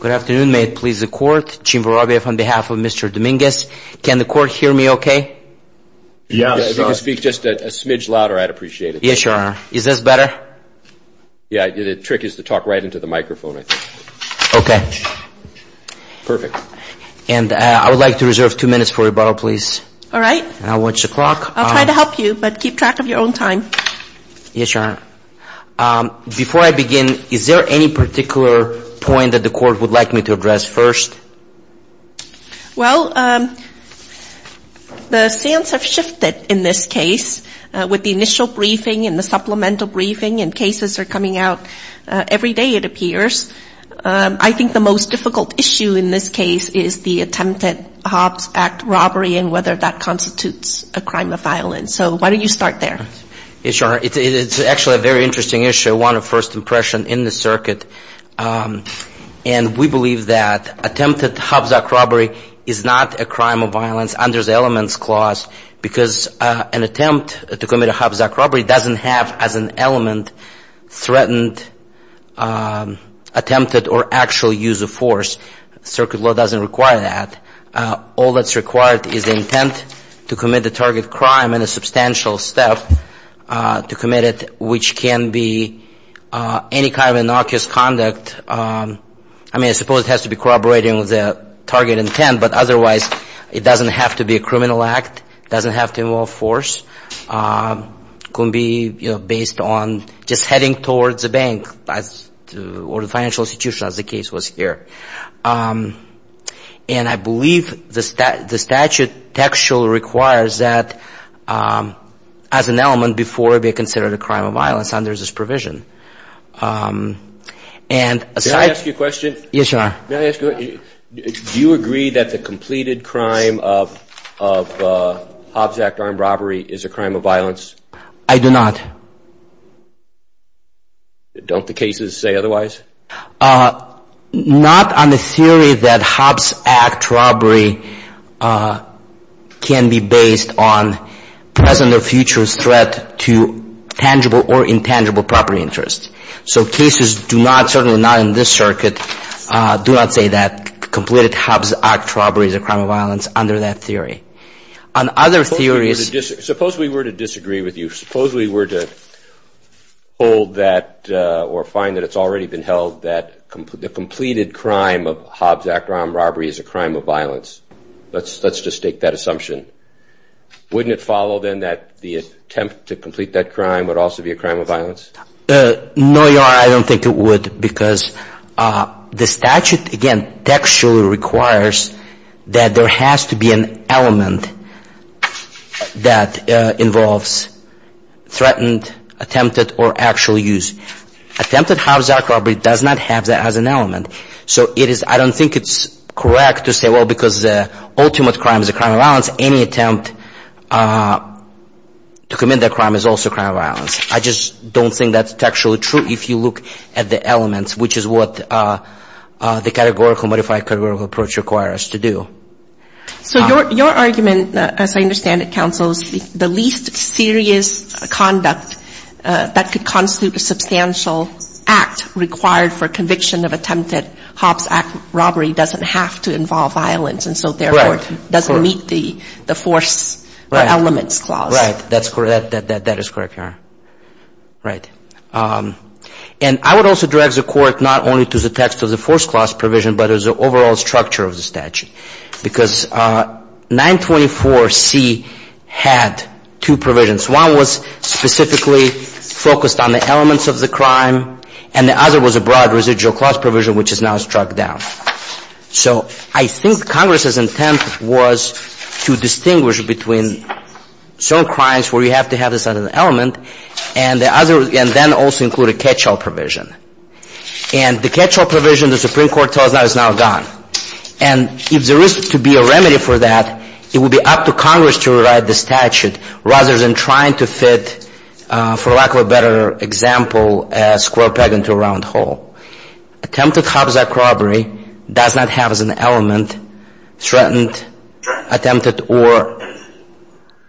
Good afternoon. May it please the court, Jim Vorovyev on behalf of Mr. Dominguez. Can the court hear me okay? Yes. If you could speak just a smidge louder, I'd appreciate it. Yes, Your Honor. Is this better? Yeah, the trick is to talk right into the microphone, I think. Okay. Perfect. And I would like to reserve two minutes for rebuttal, please. All right. I'll watch the clock. I'll try to help you, but keep track of your own time. Yes, Your Honor. Before I begin, is there any particular point that the court would like me to address first? Well, the sands have shifted in this case with the initial briefing and the supplemental briefing, and cases are coming out every day, it appears. I think the most difficult issue in this case is the attempted Hobbs Act robbery and whether that constitutes a crime of violence. So why don't you start there? Yes, Your Honor. It's actually a very interesting issue, one of first impression in the circuit. And we believe that attempted Hobbs Act robbery is not a crime of violence under the elements clause because an attempt to commit a Hobbs Act robbery doesn't have as an element threatened, attempted, or actual use of force. Circuit law doesn't require that. All that's required is the intent to commit the target crime and a substantial step to commit it, which can be any kind of innocuous conduct. I mean, I suppose it has to be corroborating with the target intent, but otherwise it doesn't have to be a criminal act, doesn't have to involve force, could be based on just heading towards the bank or the financial institution, as the case was here. And I believe the statute actually requires that as an element before it be considered a crime of violence under this provision. Can I ask you a question? Yes, Your Honor. Do you agree that the completed crime of Hobbs Act armed robbery is a crime of violence? I do not. Don't the cases say otherwise? Not on the theory that Hobbs Act robbery can be based on present or future threat to tangible or intangible property interest. So cases do not, certainly not in this circuit, do not say that completed Hobbs Act robbery is a crime of violence under that theory. On other theories – Suppose we were to disagree with you. Suppose we were to hold that or find that it's already been held that the completed crime of Hobbs Act armed robbery is a crime of violence. Let's just take that assumption. Wouldn't it follow then that the attempt to complete that crime would also be a crime of violence? No, Your Honor, I don't think it would, because the statute, again, textually requires that there has to be an element that involves threatened, attempted, or actual use. Attempted Hobbs Act robbery does not have that as an element. So I don't think it's correct to say, well, because the ultimate crime is a crime of violence, any attempt to commit that crime is also a crime of violence. I just don't think that's textually true. If you look at the elements, which is what the categorical, modified categorical approach requires to do. So your argument, as I understand it, counsel, is the least serious conduct that could constitute a substantial act required for conviction of attempted Hobbs Act robbery doesn't have to involve violence, and so therefore doesn't meet the force or elements clause. Right. That is correct, Your Honor. Right. And I would also direct the Court not only to the text of the force clause provision, but as an overall structure of the statute, because 924C had two provisions. One was specifically focused on the elements of the crime, and the other was a broad residual clause provision, which is now struck down. So I think Congress's intent was to distinguish between certain crimes where you have to have this element and then also include a catch-all provision. And the catch-all provision, the Supreme Court tells us, is now gone. And if there is to be a remedy for that, it would be up to Congress to rewrite the statute, rather than trying to fit, for lack of a better example, a square peg into a round hole. Attempted Hobbs Act robbery does not have as an element threatened, attempted, or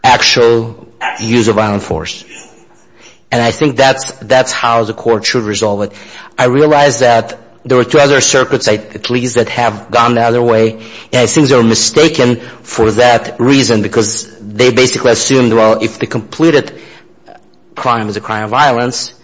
actual use of violent force. And I think that's how the Court should resolve it. I realize that there were two other circuits, at least, that have gone the other way, and I think they were mistaken for that reason, because they basically assumed, well, if the completed crime is a crime of violence,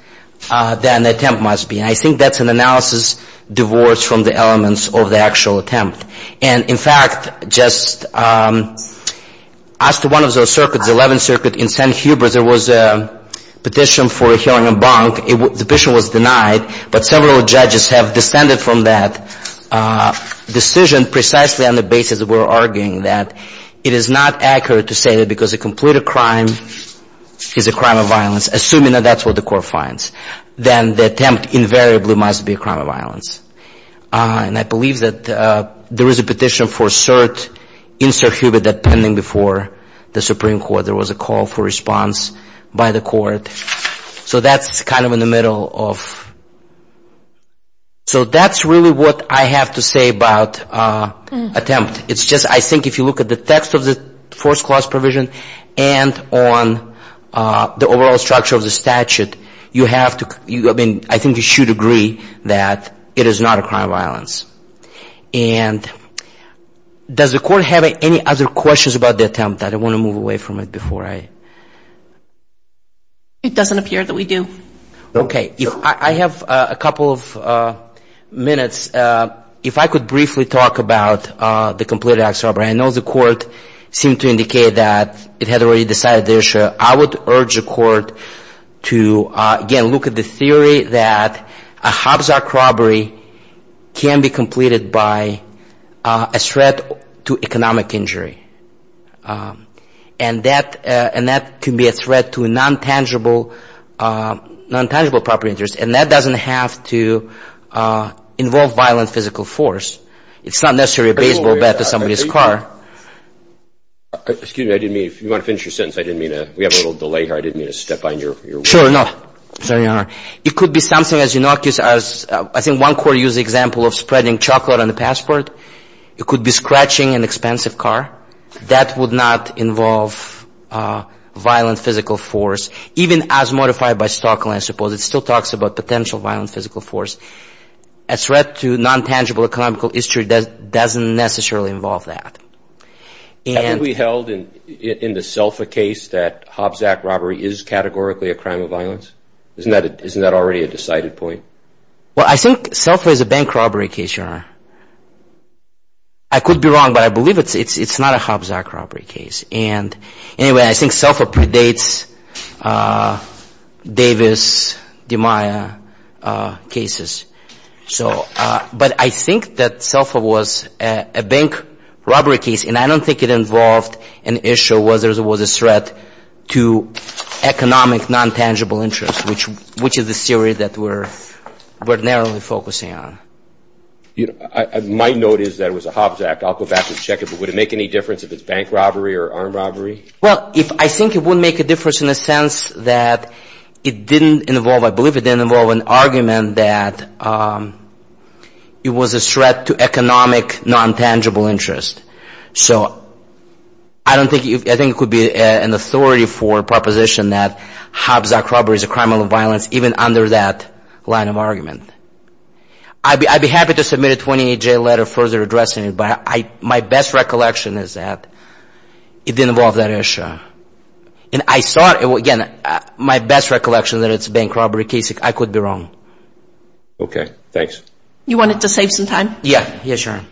then the attempt must be. I think that's an analysis divorced from the elements of the actual attempt. And, in fact, just as to one of those circuits, the Eleventh Circuit in St. Hubert, there was a petition for a hearing in Bonk. The petition was denied, but several judges have descended from that decision precisely on the basis that we're arguing that it is not accurate to say that because a completed crime is a crime of violence, assuming that that's what the Court finds, then the attempt invariably must be a crime of violence. And I believe that there is a petition for cert in St. Hubert that pending before the Supreme Court. There was a call for response by the Court. So that's kind of in the middle of so that's really what I have to say about attempt. It's just I think if you look at the text of the first clause provision and on the overall structure of the statute, you have to, I mean, I think you should agree that it is not a crime of violence. And does the Court have any other questions about the attempt? I don't want to move away from it before I. It doesn't appear that we do. Okay. I have a couple of minutes. If I could briefly talk about the completed acts of robbery. I know the Court seemed to indicate that it had already decided the issue. I would urge the Court to, again, look at the theory that a Hobbs Act robbery can be completed by a threat to economic injury. And that can be a threat to non-tangible property interests. And that doesn't have to involve violent physical force. It's not necessarily a baseball bat to somebody's car. Excuse me. I didn't mean to. If you want to finish your sentence, I didn't mean to. We have a little delay here. I didn't mean to step on your word. Sure, no. Sorry, Your Honor. It could be something as innocuous as I think one court used the example of spreading chocolate on the passport. It could be scratching an expensive car. That would not involve violent physical force. Even as modified by Stockland, I suppose, it still talks about potential violent physical force. A threat to non-tangible economical history doesn't necessarily involve that. Haven't we held in the SELFA case that Hobbs Act robbery is categorically a crime of violence? Isn't that already a decided point? Well, I think SELFA is a bank robbery case, Your Honor. I could be wrong, but I believe it's not a Hobbs Act robbery case. Anyway, I think SELFA predates Davis-Demeyer cases. But I think that SELFA was a bank robbery case, and I don't think it involved an issue whether it was a threat to economic non-tangible interest, which is the theory that we're narrowly focusing on. My note is that it was a Hobbs Act. I'll go back and check it. But would it make any difference if it's bank robbery or armed robbery? Well, I think it would make a difference in the sense that it didn't involve, I believe, it didn't involve an argument that it was a threat to economic non-tangible interest. So I think it could be an authority for proposition that Hobbs Act robbery is a crime of violence, even under that line of argument. I'd be happy to submit a 28-day letter further addressing it, but my best recollection is that it didn't involve that issue. And I thought, again, my best recollection that it's a bank robbery case, I could be wrong. Okay. Thanks. You want it to save some time? Yeah. Yes, Your Honor.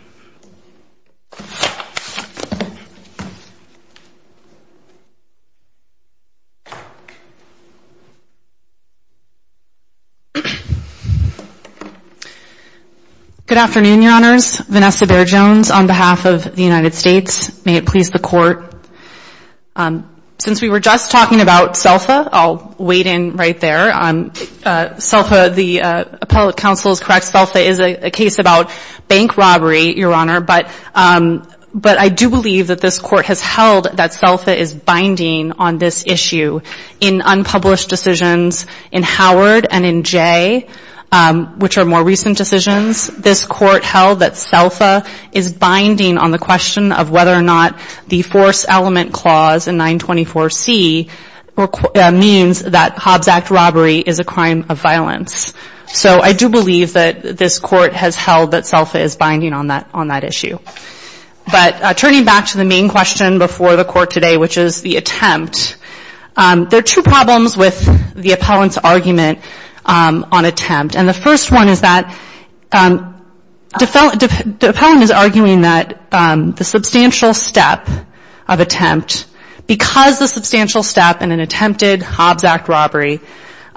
Good afternoon, Your Honors. Vanessa Bair-Jones on behalf of the United States. May it please the Court. Since we were just talking about SELFA, I'll wade in right there. SELFA, the appellate counsel is correct. SELFA is a case about bank robbery, Your Honor. But I do believe that this Court has held that SELFA is binding on this issue. In unpublished decisions in Howard and in Jay, which are more recent decisions, this Court held that SELFA is binding on the question of whether or not the force element clause in 924C means that Hobbs Act robbery is a crime of violence. So I do believe that this Court has held that SELFA is binding on that issue. But turning back to the main question before the Court today, which is the attempt, there are two problems with the appellant's argument on attempt. And the first one is that the appellant is arguing that the substantial step of attempt, because the substantial step in an attempted Hobbs Act robbery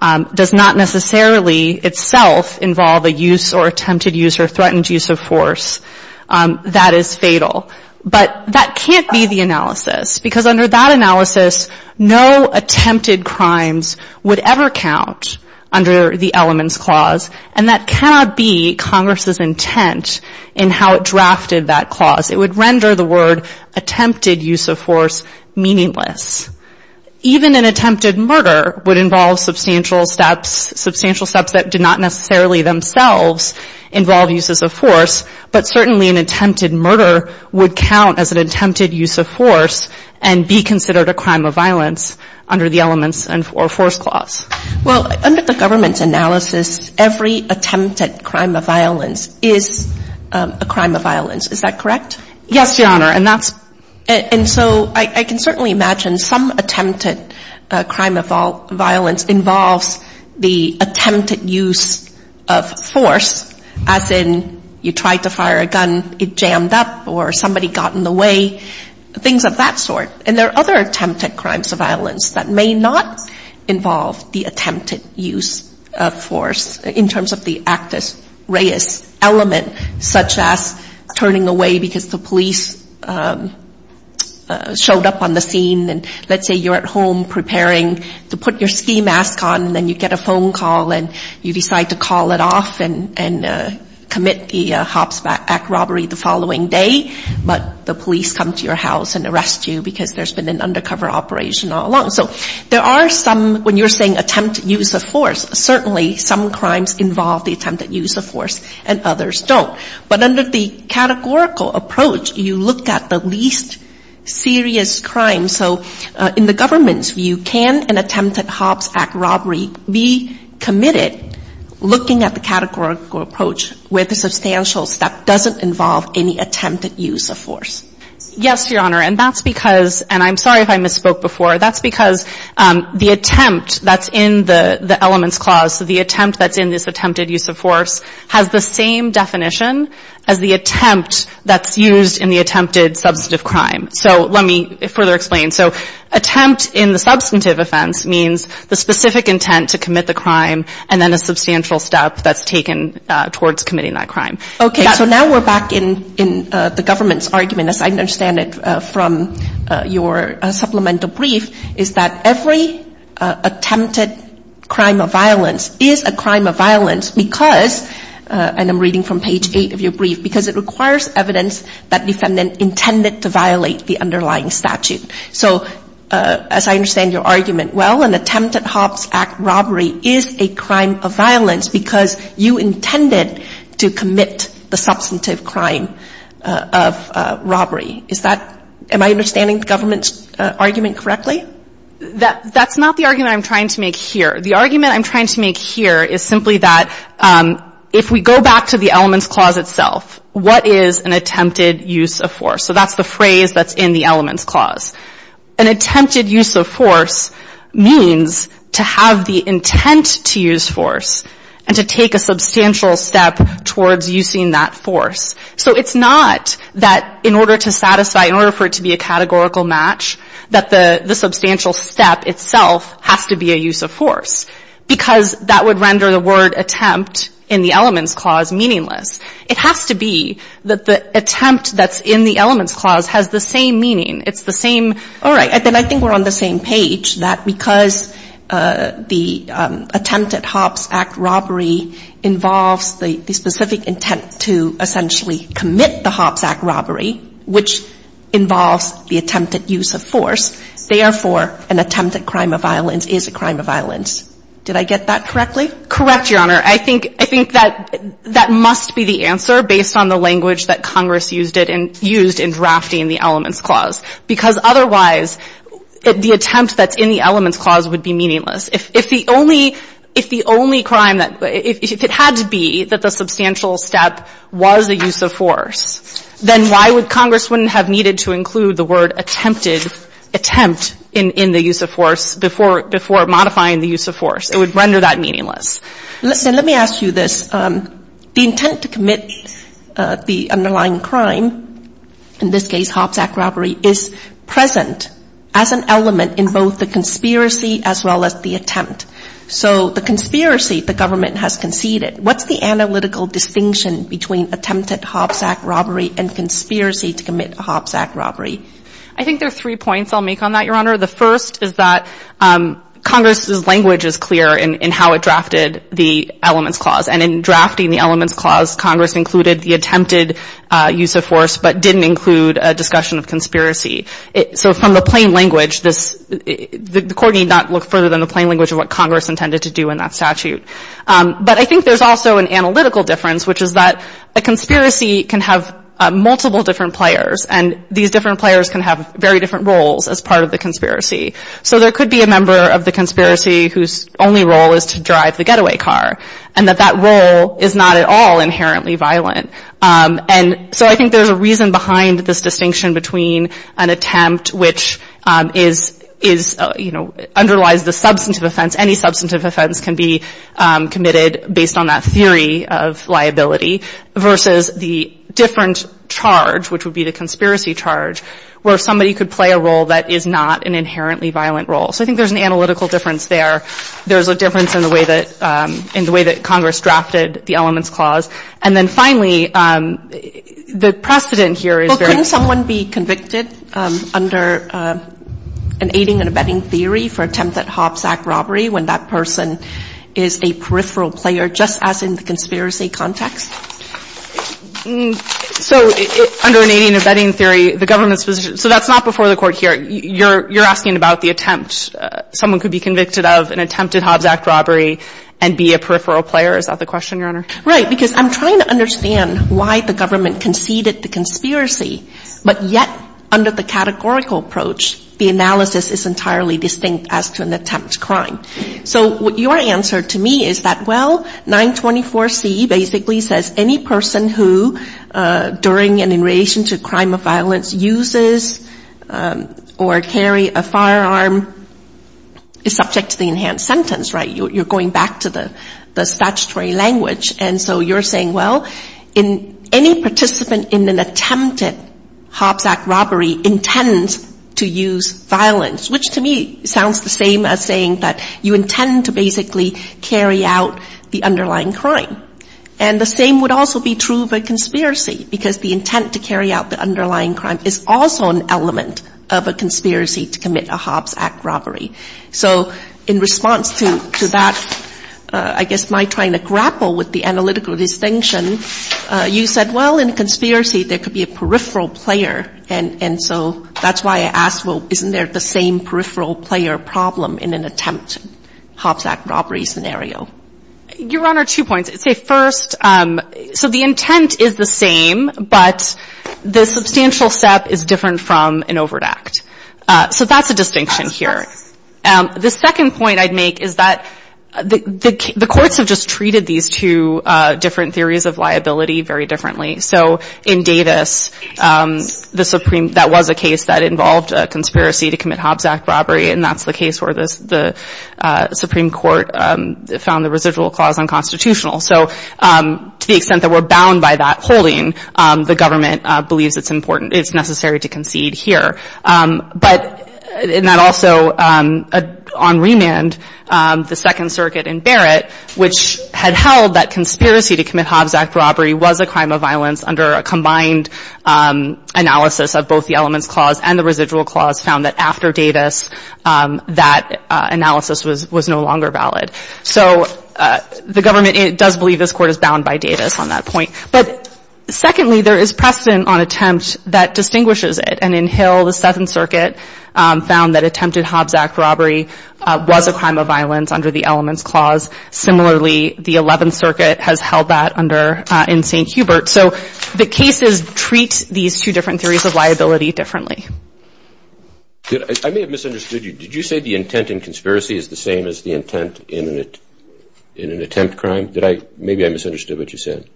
does not necessarily itself involve a use or attempted use or threatened use of force, that is fatal. But that can't be the analysis, because under that analysis, no attempted crimes would ever count under the elements clause. And that cannot be Congress's intent in how it drafted that clause. It would render the word attempted use of force meaningless. Even an attempted murder would involve substantial steps, substantial steps that did not necessarily themselves involve uses of force. But certainly an attempted murder would count as an attempted use of force and be considered a crime of violence under the elements or force clause. Well, under the government's analysis, every attempted crime of violence is a crime of violence. Is that correct? Yes, Your Honor. And that's – And so I can certainly imagine some attempted crime of violence involves the attempted use of force, as in you tried to fire a gun, it jammed up or somebody got in the way, things of that sort. And there are other attempted crimes of violence that may not involve the attempted use of force in terms of the actus reus element, such as turning away because the police showed up on the scene. And let's say you're at home preparing to put your ski mask on, then you get a phone call and you decide to call it off and commit the Hobbs Act robbery the following day. But the police come to your house and arrest you because there's been an undercover operation all along. So there are some, when you're saying attempted use of force, certainly some crimes involve the attempted use of force and others don't. But under the categorical approach, you look at the least serious crimes. And so in the government's view, can an attempted Hobbs Act robbery be committed looking at the categorical approach where the substantial step doesn't involve any attempted use of force? Yes, Your Honor. And that's because – and I'm sorry if I misspoke before. That's because the attempt that's in the elements clause, so the attempt that's in this attempted use of force, has the same definition as the attempt that's used in the attempted substantive crime. So let me further explain. So attempt in the substantive offense means the specific intent to commit the crime and then a substantial step that's taken towards committing that crime. Okay. So now we're back in the government's argument, as I understand it from your supplemental brief, is that every attempted crime of violence is a crime of violence because – and I'm reading from page 8 of your brief – because it requires evidence that defendant intended to violate the underlying statute. So as I understand your argument, well, an attempted Hobbs Act robbery is a crime of violence because you intended to commit the substantive crime of robbery. Is that – am I understanding the government's argument correctly? That's not the argument I'm trying to make here. The argument I'm trying to make here is simply that if we go back to the elements clause itself, what is an attempted use of force? So that's the phrase that's in the elements clause. An attempted use of force means to have the intent to use force and to take a substantial step towards using that force. So it's not that in order to satisfy – in order for it to be a categorical match, that the substantial step itself has to be a use of force because that would render the word attempt in the elements clause meaningless. It has to be that the attempt that's in the elements clause has the same meaning. It's the same – all right. Then I think we're on the same page, that because the attempted Hobbs Act robbery involves the specific intent to essentially commit the Hobbs Act robbery, which involves the attempted use of force, therefore, an attempted crime of violence is a crime of violence. Did I get that correctly? Correct, Your Honor. I think – I think that that must be the answer based on the language that Congress used it in – used in drafting the elements clause, because otherwise, the attempt that's in the elements clause would be meaningless. If the only – if the only crime that – if it had to be that the substantial step was a use of force, then why would Congress wouldn't have needed to include the word attempted – attempt in the use of force before – before modifying the use of force? It would render that meaningless. Listen, let me ask you this. The intent to commit the underlying crime, in this case, Hobbs Act robbery, is present as an element in both the conspiracy as well as the attempt. So the conspiracy, the government has conceded. What's the analytical distinction between attempted Hobbs Act robbery and conspiracy to commit a Hobbs Act robbery? I think there are three points I'll make on that, Your Honor. The first is that Congress's language is clear in how it drafted the elements clause. And in drafting the elements clause, Congress included the attempted use of force but didn't include a discussion of conspiracy. So from the plain language, this – the Court need not look further than the plain language of what Congress intended to do in that statute. But I think there's also an analytical difference, which is that a conspiracy can have multiple different players, and these different players can have very different roles as part of the conspiracy. So there could be a member of the conspiracy whose only role is to drive the getaway car, and that that role is not at all inherently violent. And so I think there's a reason behind this distinction between an attempt which is – is, you know, underlies the substantive offense. Any substantive offense can be committed based on that theory of liability versus the different charge, which would be the conspiracy charge, where somebody could play a role that is not an inherently violent role. So I think there's an analytical difference there. There's a difference in the way that – in the way that Congress drafted the elements clause. And then finally, the precedent here is very clear. Well, couldn't someone be convicted under an aiding and abetting theory for attempt at Hobbs Act robbery when that person is a peripheral player just as in the conspiracy context? So under an aiding and abetting theory, the government's position – so that's not before the Court here. You're – you're asking about the attempt. Someone could be convicted of an attempt at Hobbs Act robbery and be a peripheral player. Is that the question, Your Honor? Right. Because I'm trying to understand why the government conceded the conspiracy, but yet under the categorical approach, the analysis is entirely distinct as to an attempt crime. So your answer to me is that, well, 924C basically says any person who during and in relation to a crime of violence uses or carry a firearm is subject to the enhanced sentence, right? You're going back to the statutory language. And so you're saying, well, any participant in an attempted Hobbs Act robbery intends to use violence, which to me sounds the same as saying that you intend to basically carry out the underlying crime. And the same would also be true of a conspiracy, because the intent to carry out the underlying crime is also an element of a conspiracy to commit a Hobbs Act robbery. So in response to that, I guess my trying to grapple with the analytical distinction, you said, well, in a conspiracy, there could be a peripheral player. And so that's why I asked, well, isn't there the same peripheral player problem in an attempt Hobbs Act robbery scenario? Your Honor, two points. I'd say first, so the intent is the same, but the substantial step is different from an overt act. So that's a distinction here. The second point I'd make is that the courts have just treated these two different theories of liability very differently. So in Davis, the Supreme, that was a case that involved a conspiracy to commit Hobbs Act robbery, and that's the case where the Supreme Court found the residual clause unconstitutional. So to the extent that we're bound by that holding, the government believes it's important, it's necessary to concede here. But in that also, on remand, the Second Circuit in Barrett, which had held that under a combined analysis of both the elements clause and the residual clause found that after Davis, that analysis was no longer valid. So the government does believe this court is bound by Davis on that point. But secondly, there is precedent on attempt that distinguishes it. And in Hill, the Seventh Circuit found that attempted Hobbs Act robbery was a crime of violence under the elements clause. Similarly, the Eleventh Circuit has held that in St. Hubert. So the cases treat these two different theories of liability differently. I may have misunderstood you. Did you say the intent in conspiracy is the same as the intent in an attempt crime? Maybe I misunderstood what you said.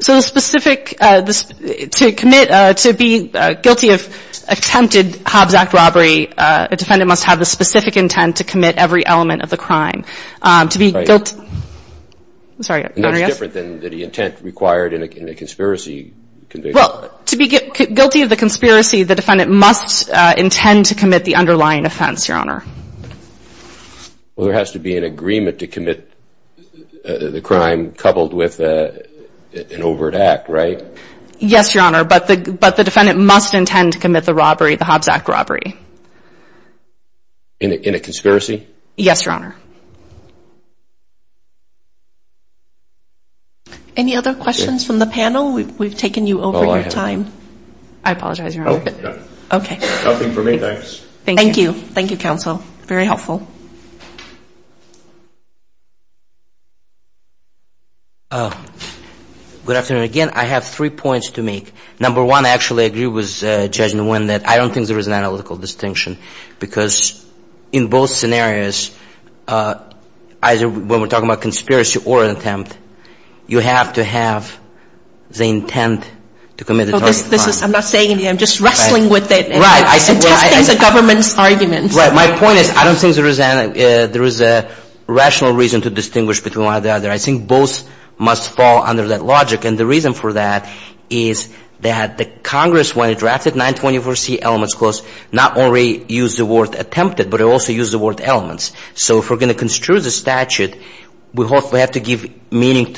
So the specific, to commit, to be guilty of attempted Hobbs Act robbery, a defendant must have the specific intent to commit every element of the crime. To be guilty. Sorry, Your Honor, yes? No, it's different than the intent required in a conspiracy conviction. Well, to be guilty of the conspiracy, the defendant must intend to commit the underlying offense, Your Honor. Well, there has to be an agreement to commit the crime coupled with an overt act, right? Yes, Your Honor. But the defendant must intend to commit the robbery, the Hobbs Act robbery. In a conspiracy? Yes, Your Honor. Any other questions from the panel? We've taken you over your time. I apologize, Your Honor. No, no. Okay. Nothing for me, thanks. Thank you. Thank you, counsel. Very helpful. Good afternoon. Again, I have three points to make. Number one, I actually agree with Judge Nguyen that I don't think there is an attempt. You have to have the intent to commit the target crime. I'm not saying anything. I'm just wrestling with it and testing the government's arguments. Right. My point is I don't think there is a rational reason to distinguish between one or the other. I think both must fall under that logic. And the reason for that is that the Congress, when it drafted 924C elements clause, not only used the word attempted, but it also used the word elements. So if we're going to construe the statute, we hopefully have to give meaning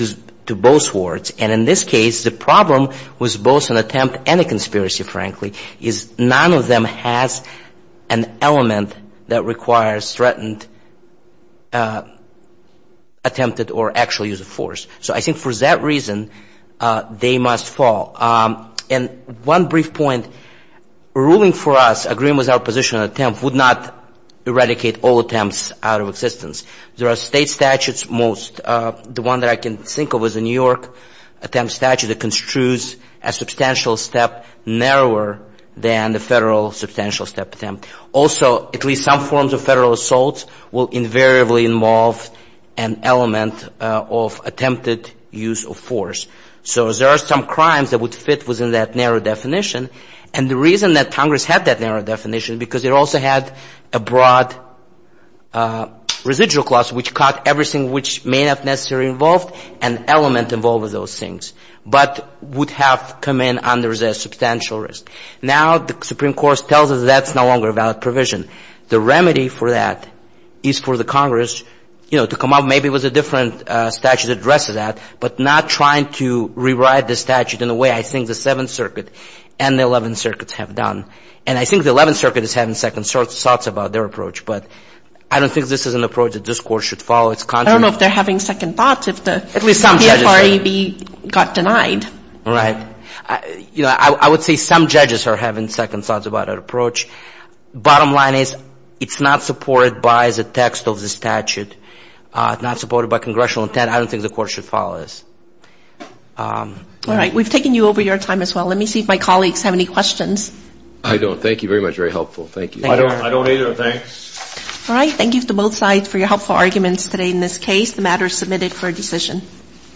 to both words. And in this case, the problem was both an attempt and a conspiracy, frankly, is none of them has an element that requires threatened, attempted, or actual use of force. So I think for that reason, they must fall. And one brief point, ruling for us, agreeing with our position on attempt, would not eradicate all attempts out of existence. There are state statutes most. The one that I can think of is the New York attempt statute that construes a substantial step narrower than the Federal substantial step attempt. Also, at least some forms of Federal assaults will invariably involve an element of attempted use of force. So there are some crimes that would fit within that narrow definition. And the reason that Congress had that narrow definition, because it also had a broad residual clause which caught everything which may not necessarily involve an element involved with those things, but would have come in under the substantial risk. Now, the Supreme Court tells us that's no longer a valid provision. The remedy for that is for the Congress, you know, to come up maybe with a different statute that addresses that, but not trying to rewrite the statute in the way I think the Seventh Circuit. And the Eleventh Circuit have done. And I think the Eleventh Circuit is having second thoughts about their approach. But I don't think this is an approach that this Court should follow. It's contrary. I don't know if they're having second thoughts if the PFRAB got denied. Right. You know, I would say some judges are having second thoughts about our approach. Bottom line is, it's not supported by the text of the statute. It's not supported by congressional intent. I don't think the Court should follow this. All right. We've taken you over your time as well. Let me see if my colleagues have any questions. I don't. Thank you very much. Very helpful. Thank you. I don't either. Thanks. All right. Thank you to both sides for your helpful arguments today in this case. The matter is submitted for decision.